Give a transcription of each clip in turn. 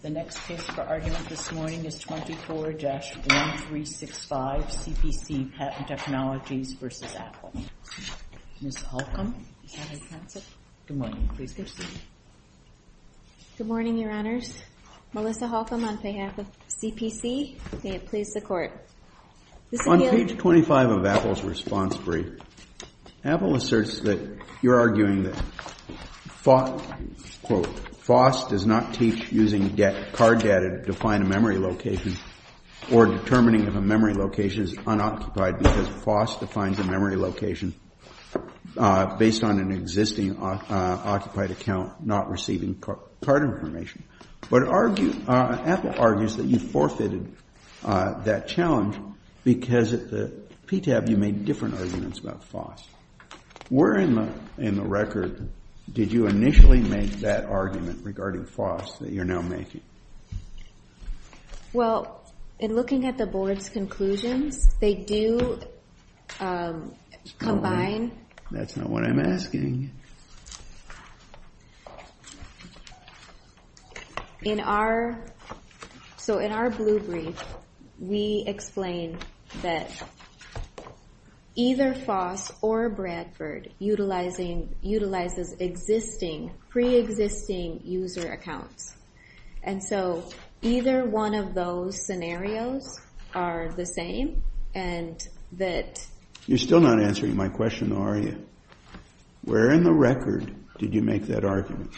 The next case for argument this morning is 24-1365, CPC Patent Technologies v. Apple. Ms. Holcomb, is that how you pronounce it? Good morning. Please proceed. Good morning, Your Honors. Melissa Holcomb on behalf of CPC. May it please the Court. On page 25 of Apple's response brief, Apple asserts that you're arguing that FOSS does not teach using card data to define a memory location or determining if a memory location is unoccupied because FOSS defines a memory location based on an existing occupied account not receiving card information. But Apple argues that you forfeited that challenge because at the PTAB you made different arguments about FOSS. Where in the record did you initially make that argument regarding FOSS that you're now making? Well, in looking at the Board's conclusions, they do combine... That's not what I'm asking. In our... So in our blue brief, we explain that either FOSS or Bradford utilizes existing, preexisting user accounts. And so either one of those scenarios are the same and that... You're still not answering my question, are you? Where in the record did you make that argument?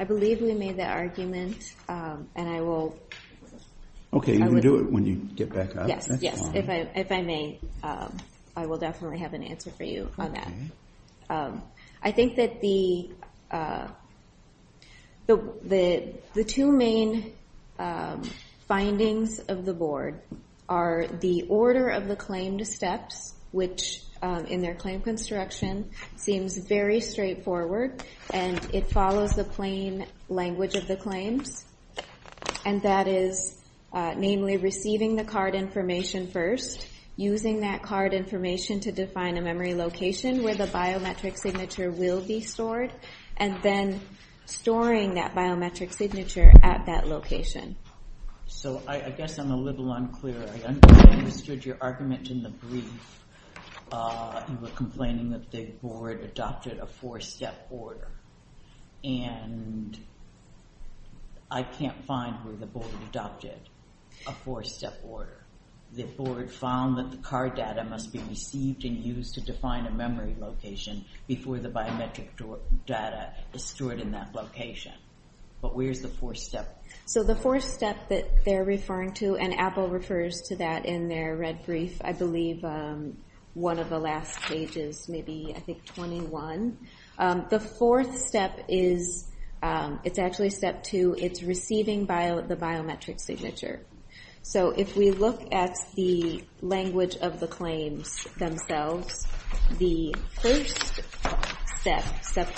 I believe we made that argument and I will... Okay, you can do it when you get back up. Yes, yes. If I may, I will definitely have an answer for you on that. I think that the two main findings of the Board are the order of the claimed steps, which in their claim construction seems very straightforward and it follows the plain language of the claims. And that is namely receiving the card information first, using that card information to define a memory location where the biometric signature will be stored, and then storing that biometric signature at that location. So I guess I'm a little unclear. I understood your argument in the brief. You were complaining that the Board adopted a four-step order. And I can't find where the Board adopted a four-step order. The Board found that the card data must be received and used to define a memory location before the biometric data is stored in that location. But where's the four-step? So the four-step that they're referring to, and Apple refers to that in their red brief, I believe one of the last pages, maybe, I think, 21. The fourth step is... It's actually step two. It's receiving the biometric signature. So if we look at the language of the claims themselves, the first step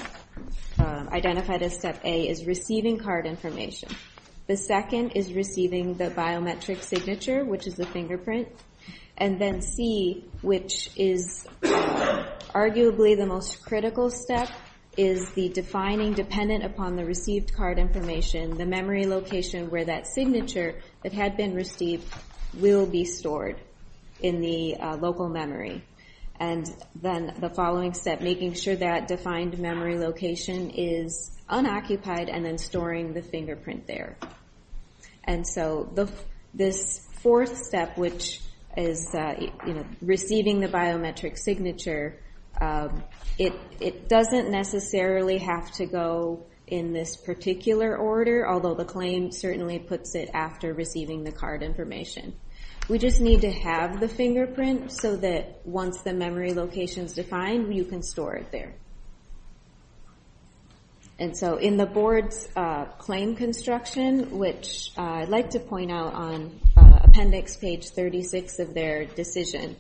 identified as step A is receiving card information. The second is receiving the biometric signature, which is the fingerprint. And then C, which is arguably the most critical step, is the defining dependent upon the received card information, the memory location where that signature that had been received will be stored in the local memory. And then the following step, making sure that defined memory location is unoccupied and then storing the fingerprint there. And so this fourth step, which is receiving the biometric signature, it doesn't necessarily have to go in this particular order, although the claim certainly puts it after receiving the card information. We just need to have the fingerprint so that once the memory location is defined, you can store it there. And so in the board's claim construction, which I'd like to point out on appendix page 36 of their decision,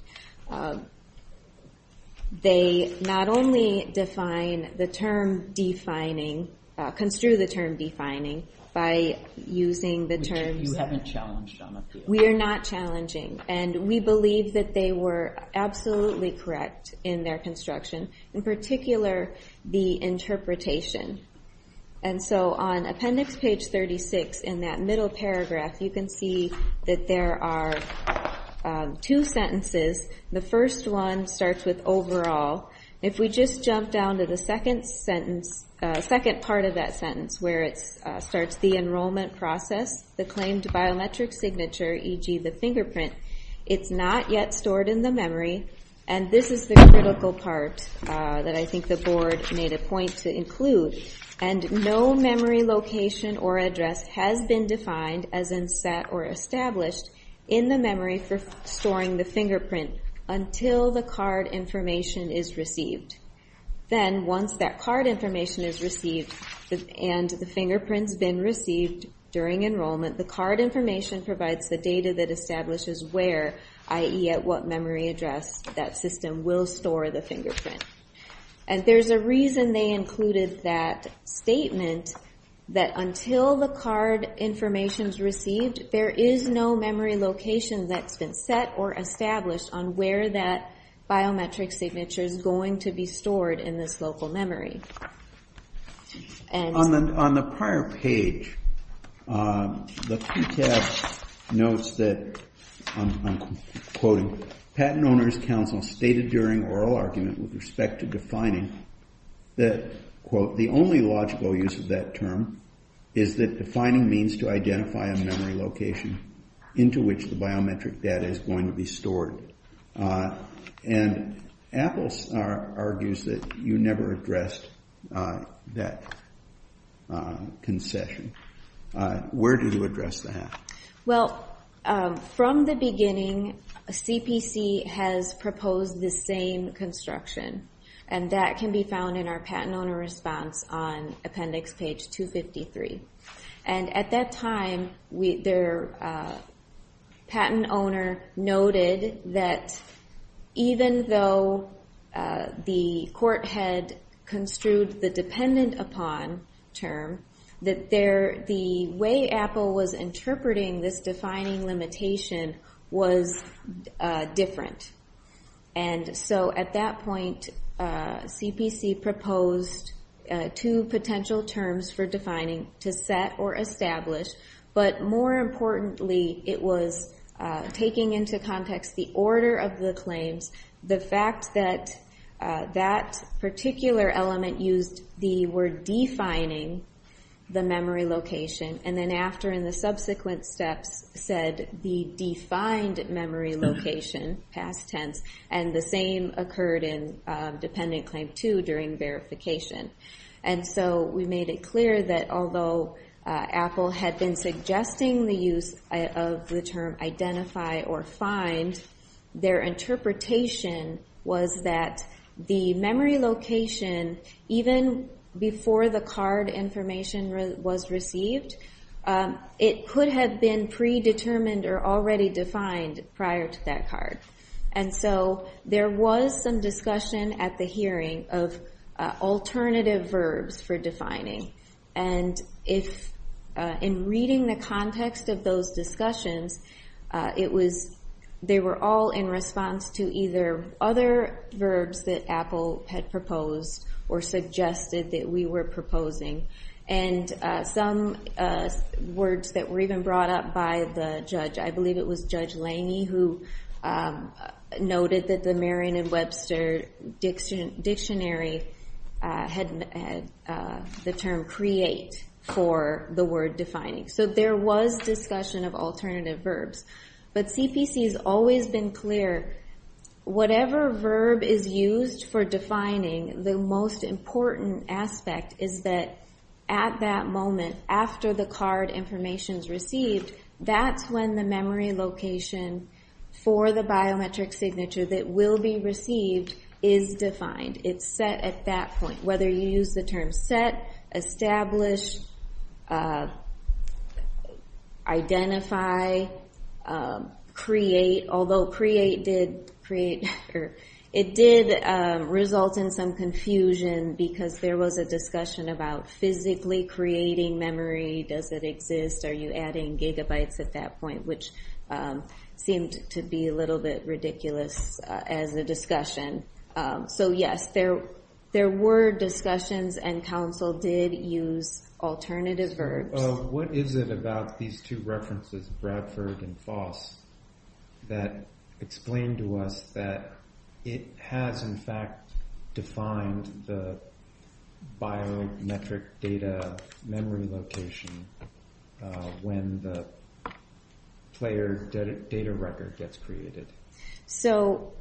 they not only define the term defining, construe the term defining by using the terms... Which you haven't challenged on appeal. We are not challenging. And we believe that they were absolutely correct in their construction, in particular the interpretation. And so on appendix page 36 in that middle paragraph, you can see that there are two sentences. The first one starts with overall. If we just jump down to the second sentence, second part of that sentence, where it starts the enrollment process, the claimed biometric signature, e.g. the fingerprint, it's not yet stored in the memory. And this is the critical part that I think the board made a point to include. And no memory location or address has been defined, as in set or established, in the memory for storing the fingerprint until the card information is received. Then once that card information is received and the fingerprint's been received during enrollment, the card information provides the data that establishes where, i.e. at what memory address, that system will store the fingerprint. And there's a reason they included that statement, that until the card information is received, there is no memory location that's been set or established on where that biometric signature is going to be stored in this local memory. On the prior page, the QTAS notes that, I'm quoting, the Patent Owners' Council stated during oral argument with respect to defining that, quote, the only logical use of that term is that defining means to identify a memory location into which the biometric data is going to be stored. And Apples argues that you never addressed that concession. Where did you address that? Well, from the beginning, CPC has proposed the same construction, and that can be found in our Patent Owner Response on Appendix Page 253. And at that time, their patent owner noted that even though the court had construed the dependent upon term, that the way Apple was interpreting this defining limitation was different. And so at that point, CPC proposed two potential terms for defining, to set or establish, but more importantly, it was taking into context the order of the claims, the fact that that particular element used the word defining the memory location, and then after in the subsequent steps said the defined memory location, past tense, and the same occurred in Dependent Claim 2 during verification. And so we made it clear that although Apple had been suggesting the use of the term identify or find, their interpretation was that the memory location, even before the card information was received, it could have been predetermined or already defined prior to that card. And so there was some discussion at the hearing of alternative verbs for defining. And in reading the context of those discussions, they were all in response to either other verbs that Apple had proposed or suggested that we were proposing, and some words that were even brought up by the judge. I believe it was Judge Lange who noted that the Merriam-Webster Dictionary had the term create for the word defining. So there was discussion of alternative verbs. But CPC has always been clear, whatever verb is used for defining, the most important aspect is that at that moment, after the card information is received, that's when the memory location for the biometric signature that will be received is defined. It's set at that point. Whether you use the term set, establish, identify, create, although create did result in some confusion because there was a discussion about physically creating memory. Does it exist? Are you adding gigabytes at that point? Which seemed to be a little bit ridiculous as a discussion. So yes, there were discussions and counsel did use alternative verbs. What is it about these two references, Bradford and Foss, that explain to us that it has in fact defined the biometric data memory location when the player data record gets created? So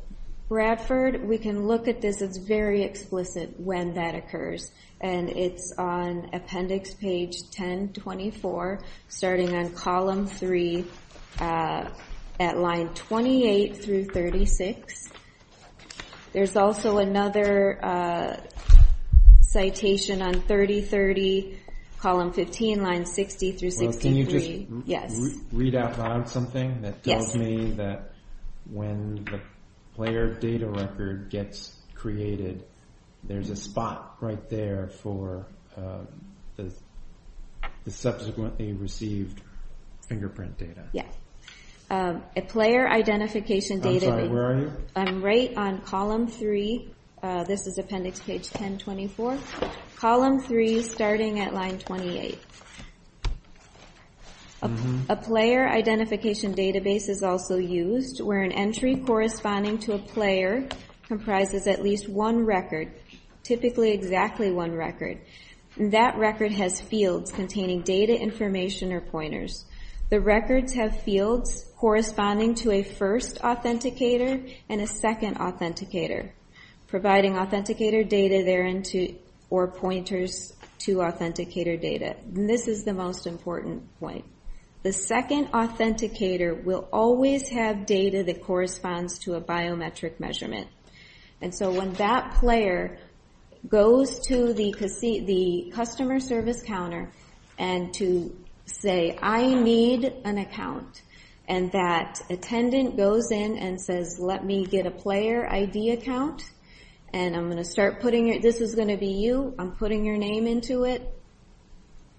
Bradford, we can look at this. It's very explicit when that occurs. And it's on appendix page 1024, starting on column 3 at line 28 through 36. There's also another citation on 3030, column 15, line 60 through 63. Can you just read out loud something that tells me that when the player data record gets created, there's a spot right there for the subsequently received fingerprint data? Yes. A player identification database. I'm sorry, where are you? I'm right on column 3. This is appendix page 1024. Column 3, starting at line 28. A player identification database is also used where an entry corresponding to a player comprises at least one record, typically exactly one record. That record has fields containing data information or pointers. The records have fields corresponding to a first authenticator and a second authenticator, providing authenticator data therein or pointers to authenticator data. And this is the most important point. The second authenticator will always have data that corresponds to a biometric measurement. And so when that player goes to the customer service counter and to say, I need an account, and that attendant goes in and says, let me get a player ID account, and I'm going to start putting your, this is going to be you, I'm putting your name into it,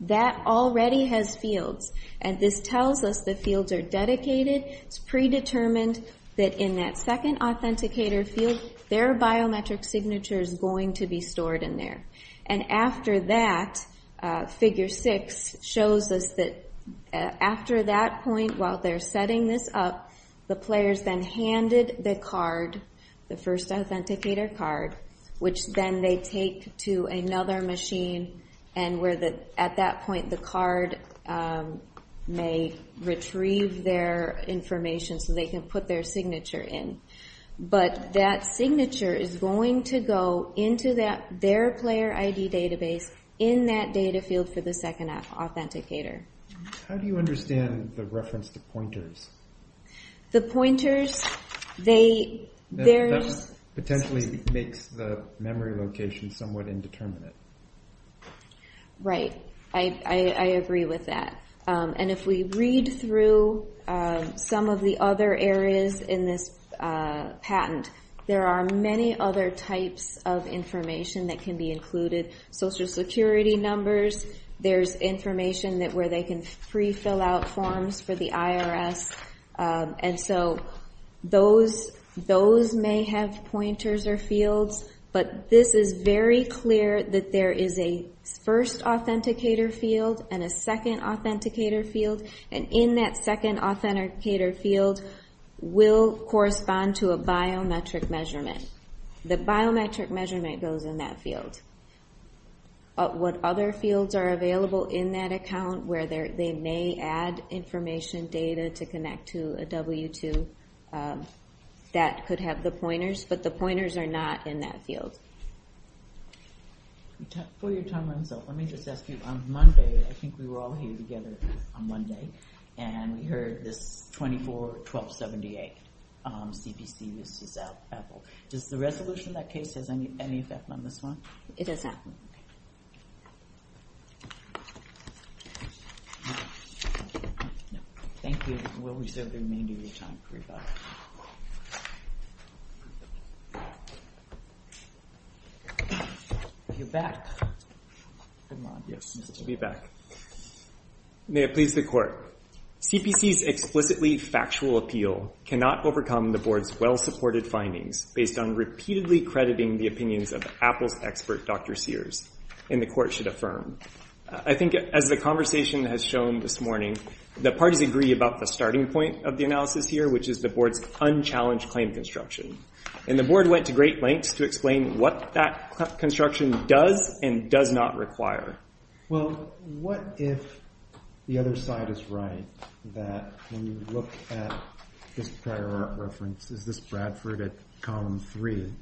that already has fields. And this tells us the fields are dedicated. It's predetermined that in that second authenticator field, their biometric signature is going to be stored in there. And after that, figure 6 shows us that after that point, while they're setting this up, the players then handed the card, the first authenticator card, which then they take to another machine, and at that point the card may retrieve their information so they can put their signature in. But that signature is going to go into their player ID database in that data field for the second authenticator. How do you understand the reference to pointers? The pointers, they, there's... That potentially makes the memory location somewhat indeterminate. Right. I agree with that. And if we read through some of the other areas in this patent, there are many other types of information that can be included. Social security numbers, there's information where they can pre-fill out forms for the IRS. And so those may have pointers or fields, but this is very clear that there is a first authenticator field and a second authenticator field, and in that second authenticator field will correspond to a biometric measurement. The biometric measurement goes in that field. What other fields are available in that account where they may add information, data to connect to a W-2 that could have the pointers, but the pointers are not in that field. For your time, let me just ask you, on Monday, I think we were all here together on Monday, and we heard this 24-1278 CPC uses Apple. Does the resolution of that case have any effect on this one? It does not. Thank you. We'll reserve the remainder of your time for rebuttal. You're back. Yes, I'll be back. May it please the Court. CPC's explicitly factual appeal cannot overcome the Board's well-supported findings based on repeatedly crediting the opinions of Apple's expert, Dr. Sears, and the Court should affirm. I think as the conversation has shown this morning, the parties agree about the starting point of the analysis here, which is the Board's unchallenged claim construction, and the Board went to great lengths to explain what that construction does and does not require. Well, what if the other side is right, that when you look at this prior art reference, is this Bradford at column three,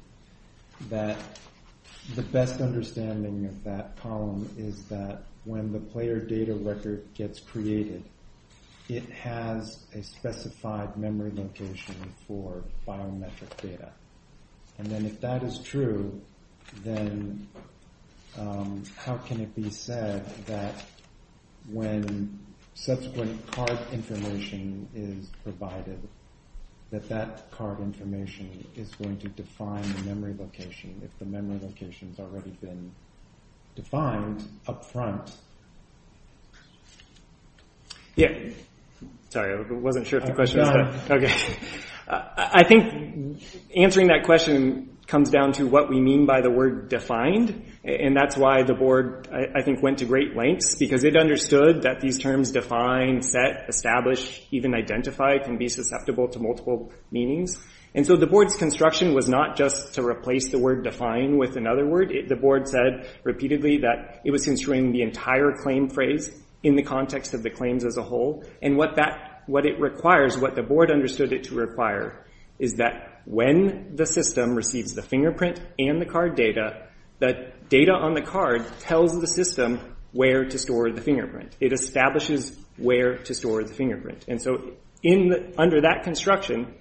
that the best understanding of that column is that when the player data record gets created, it has a specified memory location for biometric data. And then if that is true, then how can it be said that when subsequent card information is provided, that that card information is going to define the memory location if the memory location has already been defined up front? Sorry, I wasn't sure if the question was that. I think answering that question comes down to what we mean by the word defined, and that's why the Board, I think, went to great lengths, because it understood that these terms define, set, establish, even identify and be susceptible to multiple meanings. And so the Board's construction was not just to replace the word define with another word. The Board said repeatedly that it was construing the entire claim phrase in the context of the claims as a whole, and what it requires, what the Board understood it to require, is that when the system receives the fingerprint and the card data, that data on the card tells the system where to store the fingerprint. It establishes where to store the fingerprint. And so under that construction,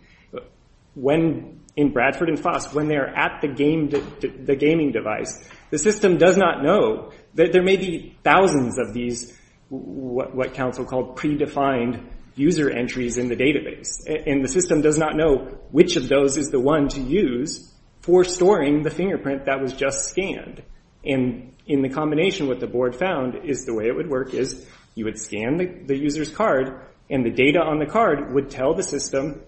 in Bradford and Foss, when they're at the gaming device, the system does not know. There may be thousands of these what counsel called predefined user entries in the database, and the system does not know which of those is the one to use for storing the fingerprint that was just scanned. And in the combination, what the Board found is the way it would work is you would scan the user's card, and the data on the card would tell the system,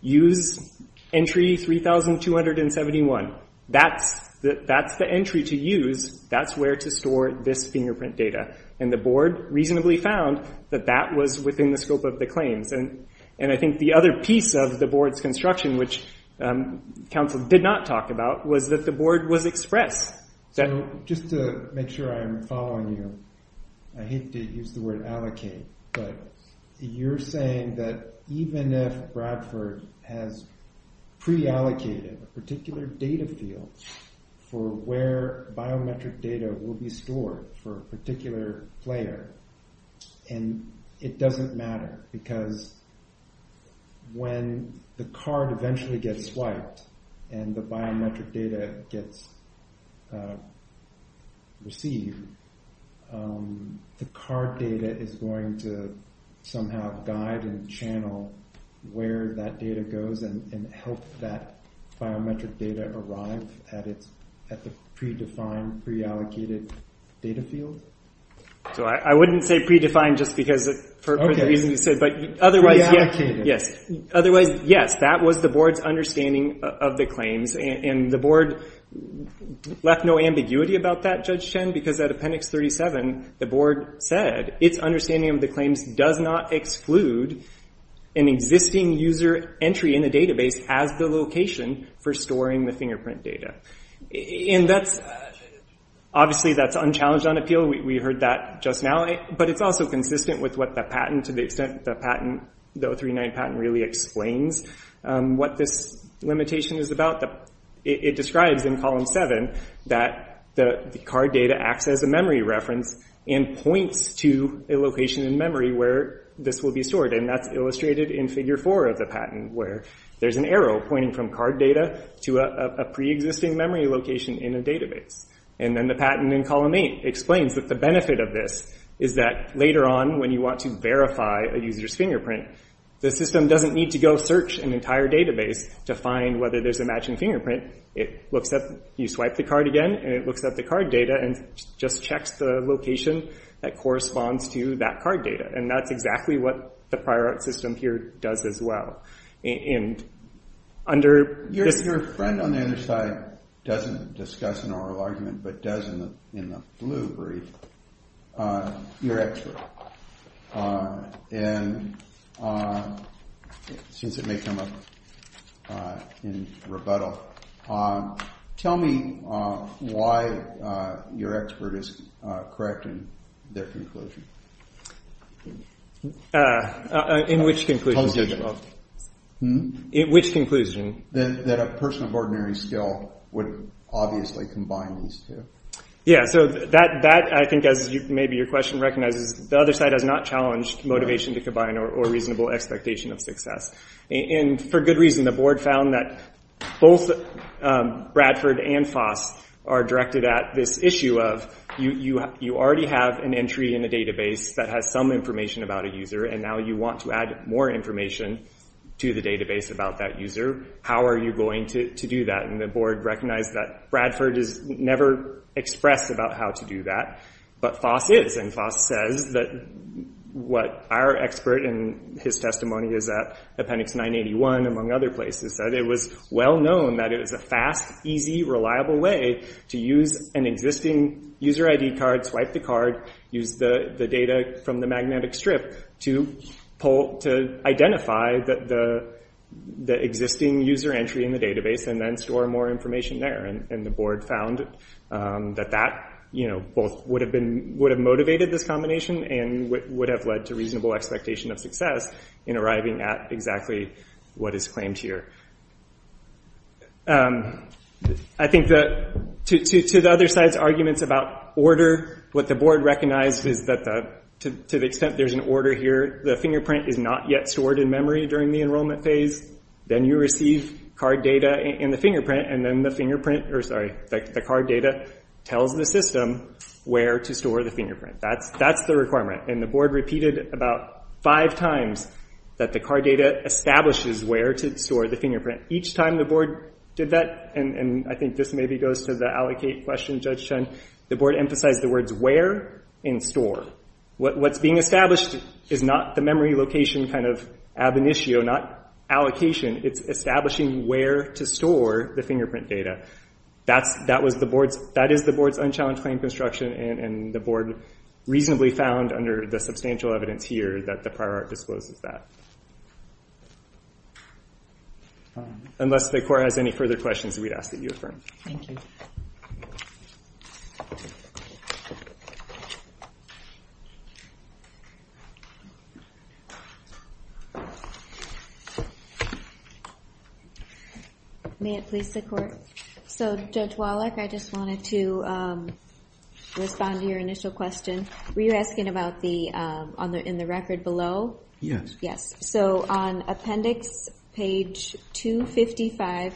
use entry 3,271. That's the entry to use. That's where to store this fingerprint data. And the Board reasonably found that that was within the scope of the claims. And I think the other piece of the Board's construction, which counsel did not talk about, was that the Board was express. Just to make sure I'm following you, I hate to use the word allocate, but you're saying that even if Bradford has pre-allocated a particular data field for where biometric data will be stored for a particular player, and it doesn't matter because when the card eventually gets swiped and the biometric data gets received, the card data is going to somehow guide and channel where that data goes and help that biometric data arrive at the pre-defined, pre-allocated data field? I wouldn't say pre-defined just for the reason you said, but otherwise, yes. That was the Board's understanding of the claims, and the Board left no ambiguity about that, Judge Chen, because at Appendix 37, the Board said its understanding of the claims does not exclude an existing user entry in the database as the location for storing the fingerprint data. Obviously, that's unchallenged on appeal. We heard that just now. But it's also consistent with what the patent, to the extent that the O3-9 patent really explains what this limitation is about. It describes in Column 7 that the card data acts as a memory reference and points to a location in memory where this will be stored, and that's illustrated in Figure 4 of the patent, where there's an arrow pointing from card data to a pre-existing memory location in a database. And then the patent in Column 8 explains that the benefit of this is that later on, when you want to verify a user's fingerprint, the system doesn't need to go search an entire database to find whether there's a matching fingerprint. You swipe the card again, and it looks up the card data and just checks the location that corresponds to that card data. And that's exactly what the Prior Art System here does as well. Your friend on the other side doesn't discuss an oral argument, but does in the blue brief, your expert. And since it may come up in rebuttal, tell me why your expert is correct in their conclusion. In which conclusion? In which conclusion? That a person of ordinary skill would obviously combine these two. Yeah, so that, I think, as maybe your question recognizes, the other side has not challenged motivation to combine or reasonable expectation of success. And for good reason, the board found that both Bradford and FOSS are directed at this issue of you already have an entry in a database that has some information about a user, and now you want to add more information to the database about that user. How are you going to do that? And the board recognized that Bradford is never expressed about how to do that, but FOSS is, and FOSS says that what our expert, and his testimony is at Appendix 981, among other places, that it was well known that it was a fast, easy, reliable way to use an existing user ID card, swipe the card, use the data from the magnetic strip to identify the existing user entry in the database and then store more information there. And the board found that that both would have motivated this combination and would have led to reasonable expectation of success in arriving at exactly what is claimed here. I think that to the other side's arguments about order, what the board recognized is that to the extent there's an order here, the fingerprint is not yet stored in memory during the enrollment phase. Then you receive card data and the fingerprint, and then the card data tells the system where to store the fingerprint. That's the requirement, and the board repeated about five times that the card data establishes where to store the fingerprint. Each time the board did that, and I think this maybe goes to the allocate question, Judge Chun, the board emphasized the words where and store. What's being established is not the memory location kind of ab initio, not allocation. It's establishing where to store the fingerprint data. That is the board's unchallenged claim construction, and the board reasonably found under the substantial evidence here that the prior art discloses that. Unless the court has any further questions, we'd ask that you affirm. Thank you. May it please the court? So, Judge Wallach, I just wanted to respond to your initial question. Were you asking about in the record below? Yes. Yes. So on appendix page 255,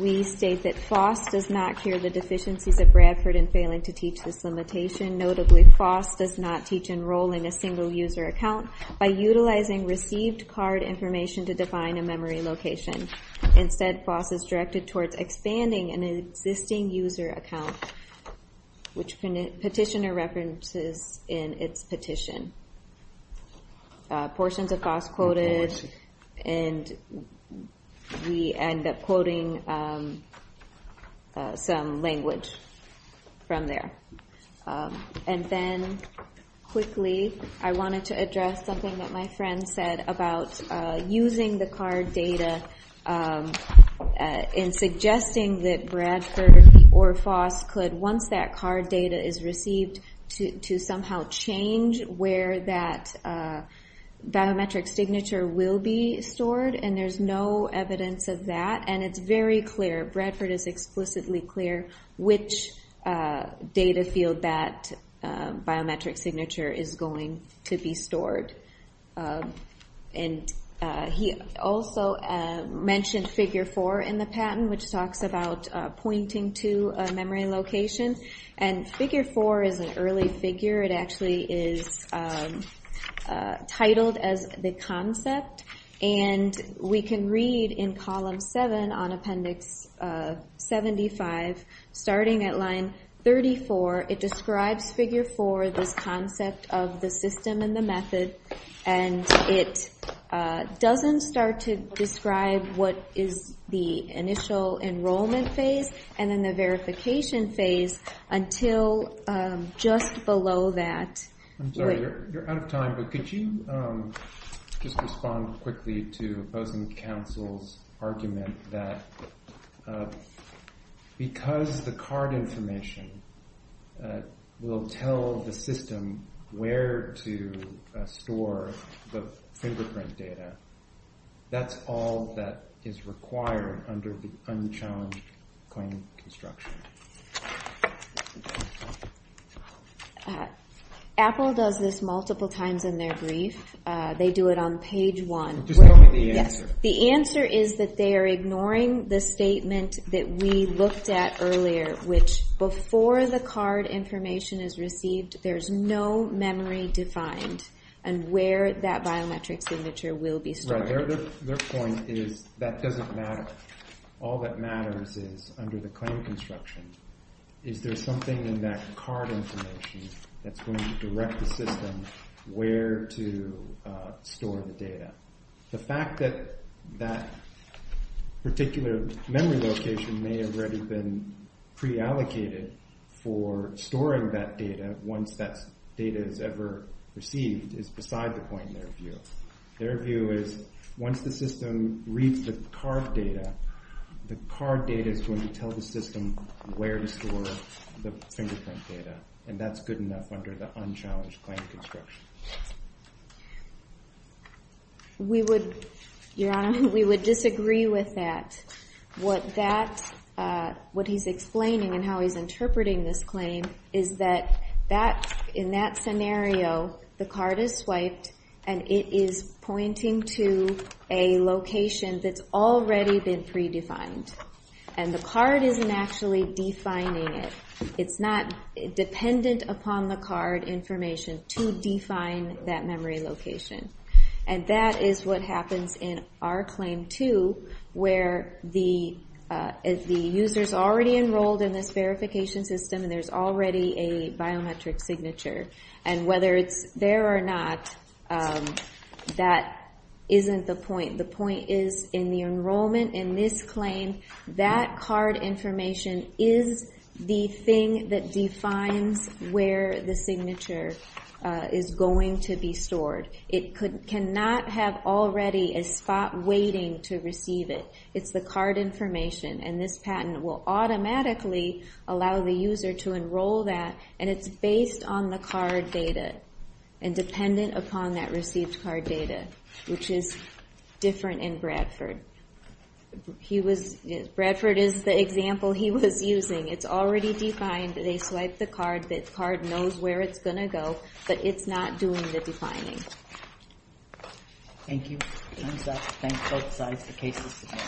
we state that FOSS does not cure the deficiencies of Bradford in failing to teach this limitation. Notably, FOSS does not teach enrolling a single user account by utilizing received card information to define a memory location. Instead, FOSS is directed towards expanding an existing user account, which petitioner references in its petition. Portions of FOSS quoted, and we end up quoting some language from there. And then, quickly, I wanted to address something that my friend said about using the card data in suggesting that Bradford or FOSS could, once that card data is received, to somehow change where that biometric signature will be stored, and there's no evidence of that. And it's very clear, Bradford is explicitly clear, which data field that biometric signature is going to be stored. And he also mentioned figure four in the patent, which talks about pointing to a memory location. And figure four is an early figure. It actually is titled as the concept. And we can read in column seven on appendix 75, starting at line 34, it describes figure four, this concept of the system and the method, and it doesn't start to describe what is the initial enrollment phase and then the verification phase until just below that. I'm sorry, you're out of time, but could you just respond quickly to opposing counsel's argument that because the card information will tell the system where to store the fingerprint data, that's all that is required under the unchallenged claim construction? Apple does this multiple times in their brief. They do it on page one. Just tell me the answer. The answer is that they are ignoring the statement that we looked at earlier, which before the card information is received, there's no memory defined and where that biometric signature will be stored. Right, their point is that doesn't matter. All that matters is under the claim construction, is there something in that card information that's going to direct the system where to store the data? The fact that that particular memory location may have already been preallocated for storing that data once that data is ever received is beside the point in their view. Their view is once the system reads the card data, the card data is going to tell the system where to store the fingerprint data, and that's good enough under the unchallenged claim construction. Your Honor, we would disagree with that. What he's explaining and how he's interpreting this claim is that in that scenario, the card is swiped and it is pointing to a location that's already been predefined, and the card isn't actually defining it. It's not dependent upon the card information to define that memory location, and that is what happens in our claim two, where the user's already enrolled in this verification system and there's already a biometric signature, and whether it's there or not, that isn't the point. The point is in the enrollment in this claim, that card information is the thing that defines where the signature is going to be stored. It cannot have already a spot waiting to receive it. It's the card information, and this patent will automatically allow the user to enroll that, and it's based on the card data and dependent upon that received card data, which is different in Bradford. Bradford is the example he was using. It's already defined. They swipe the card. The card knows where it's going to go, but it's not doing the defining. Thank you. I'm set to thank both sides for cases today.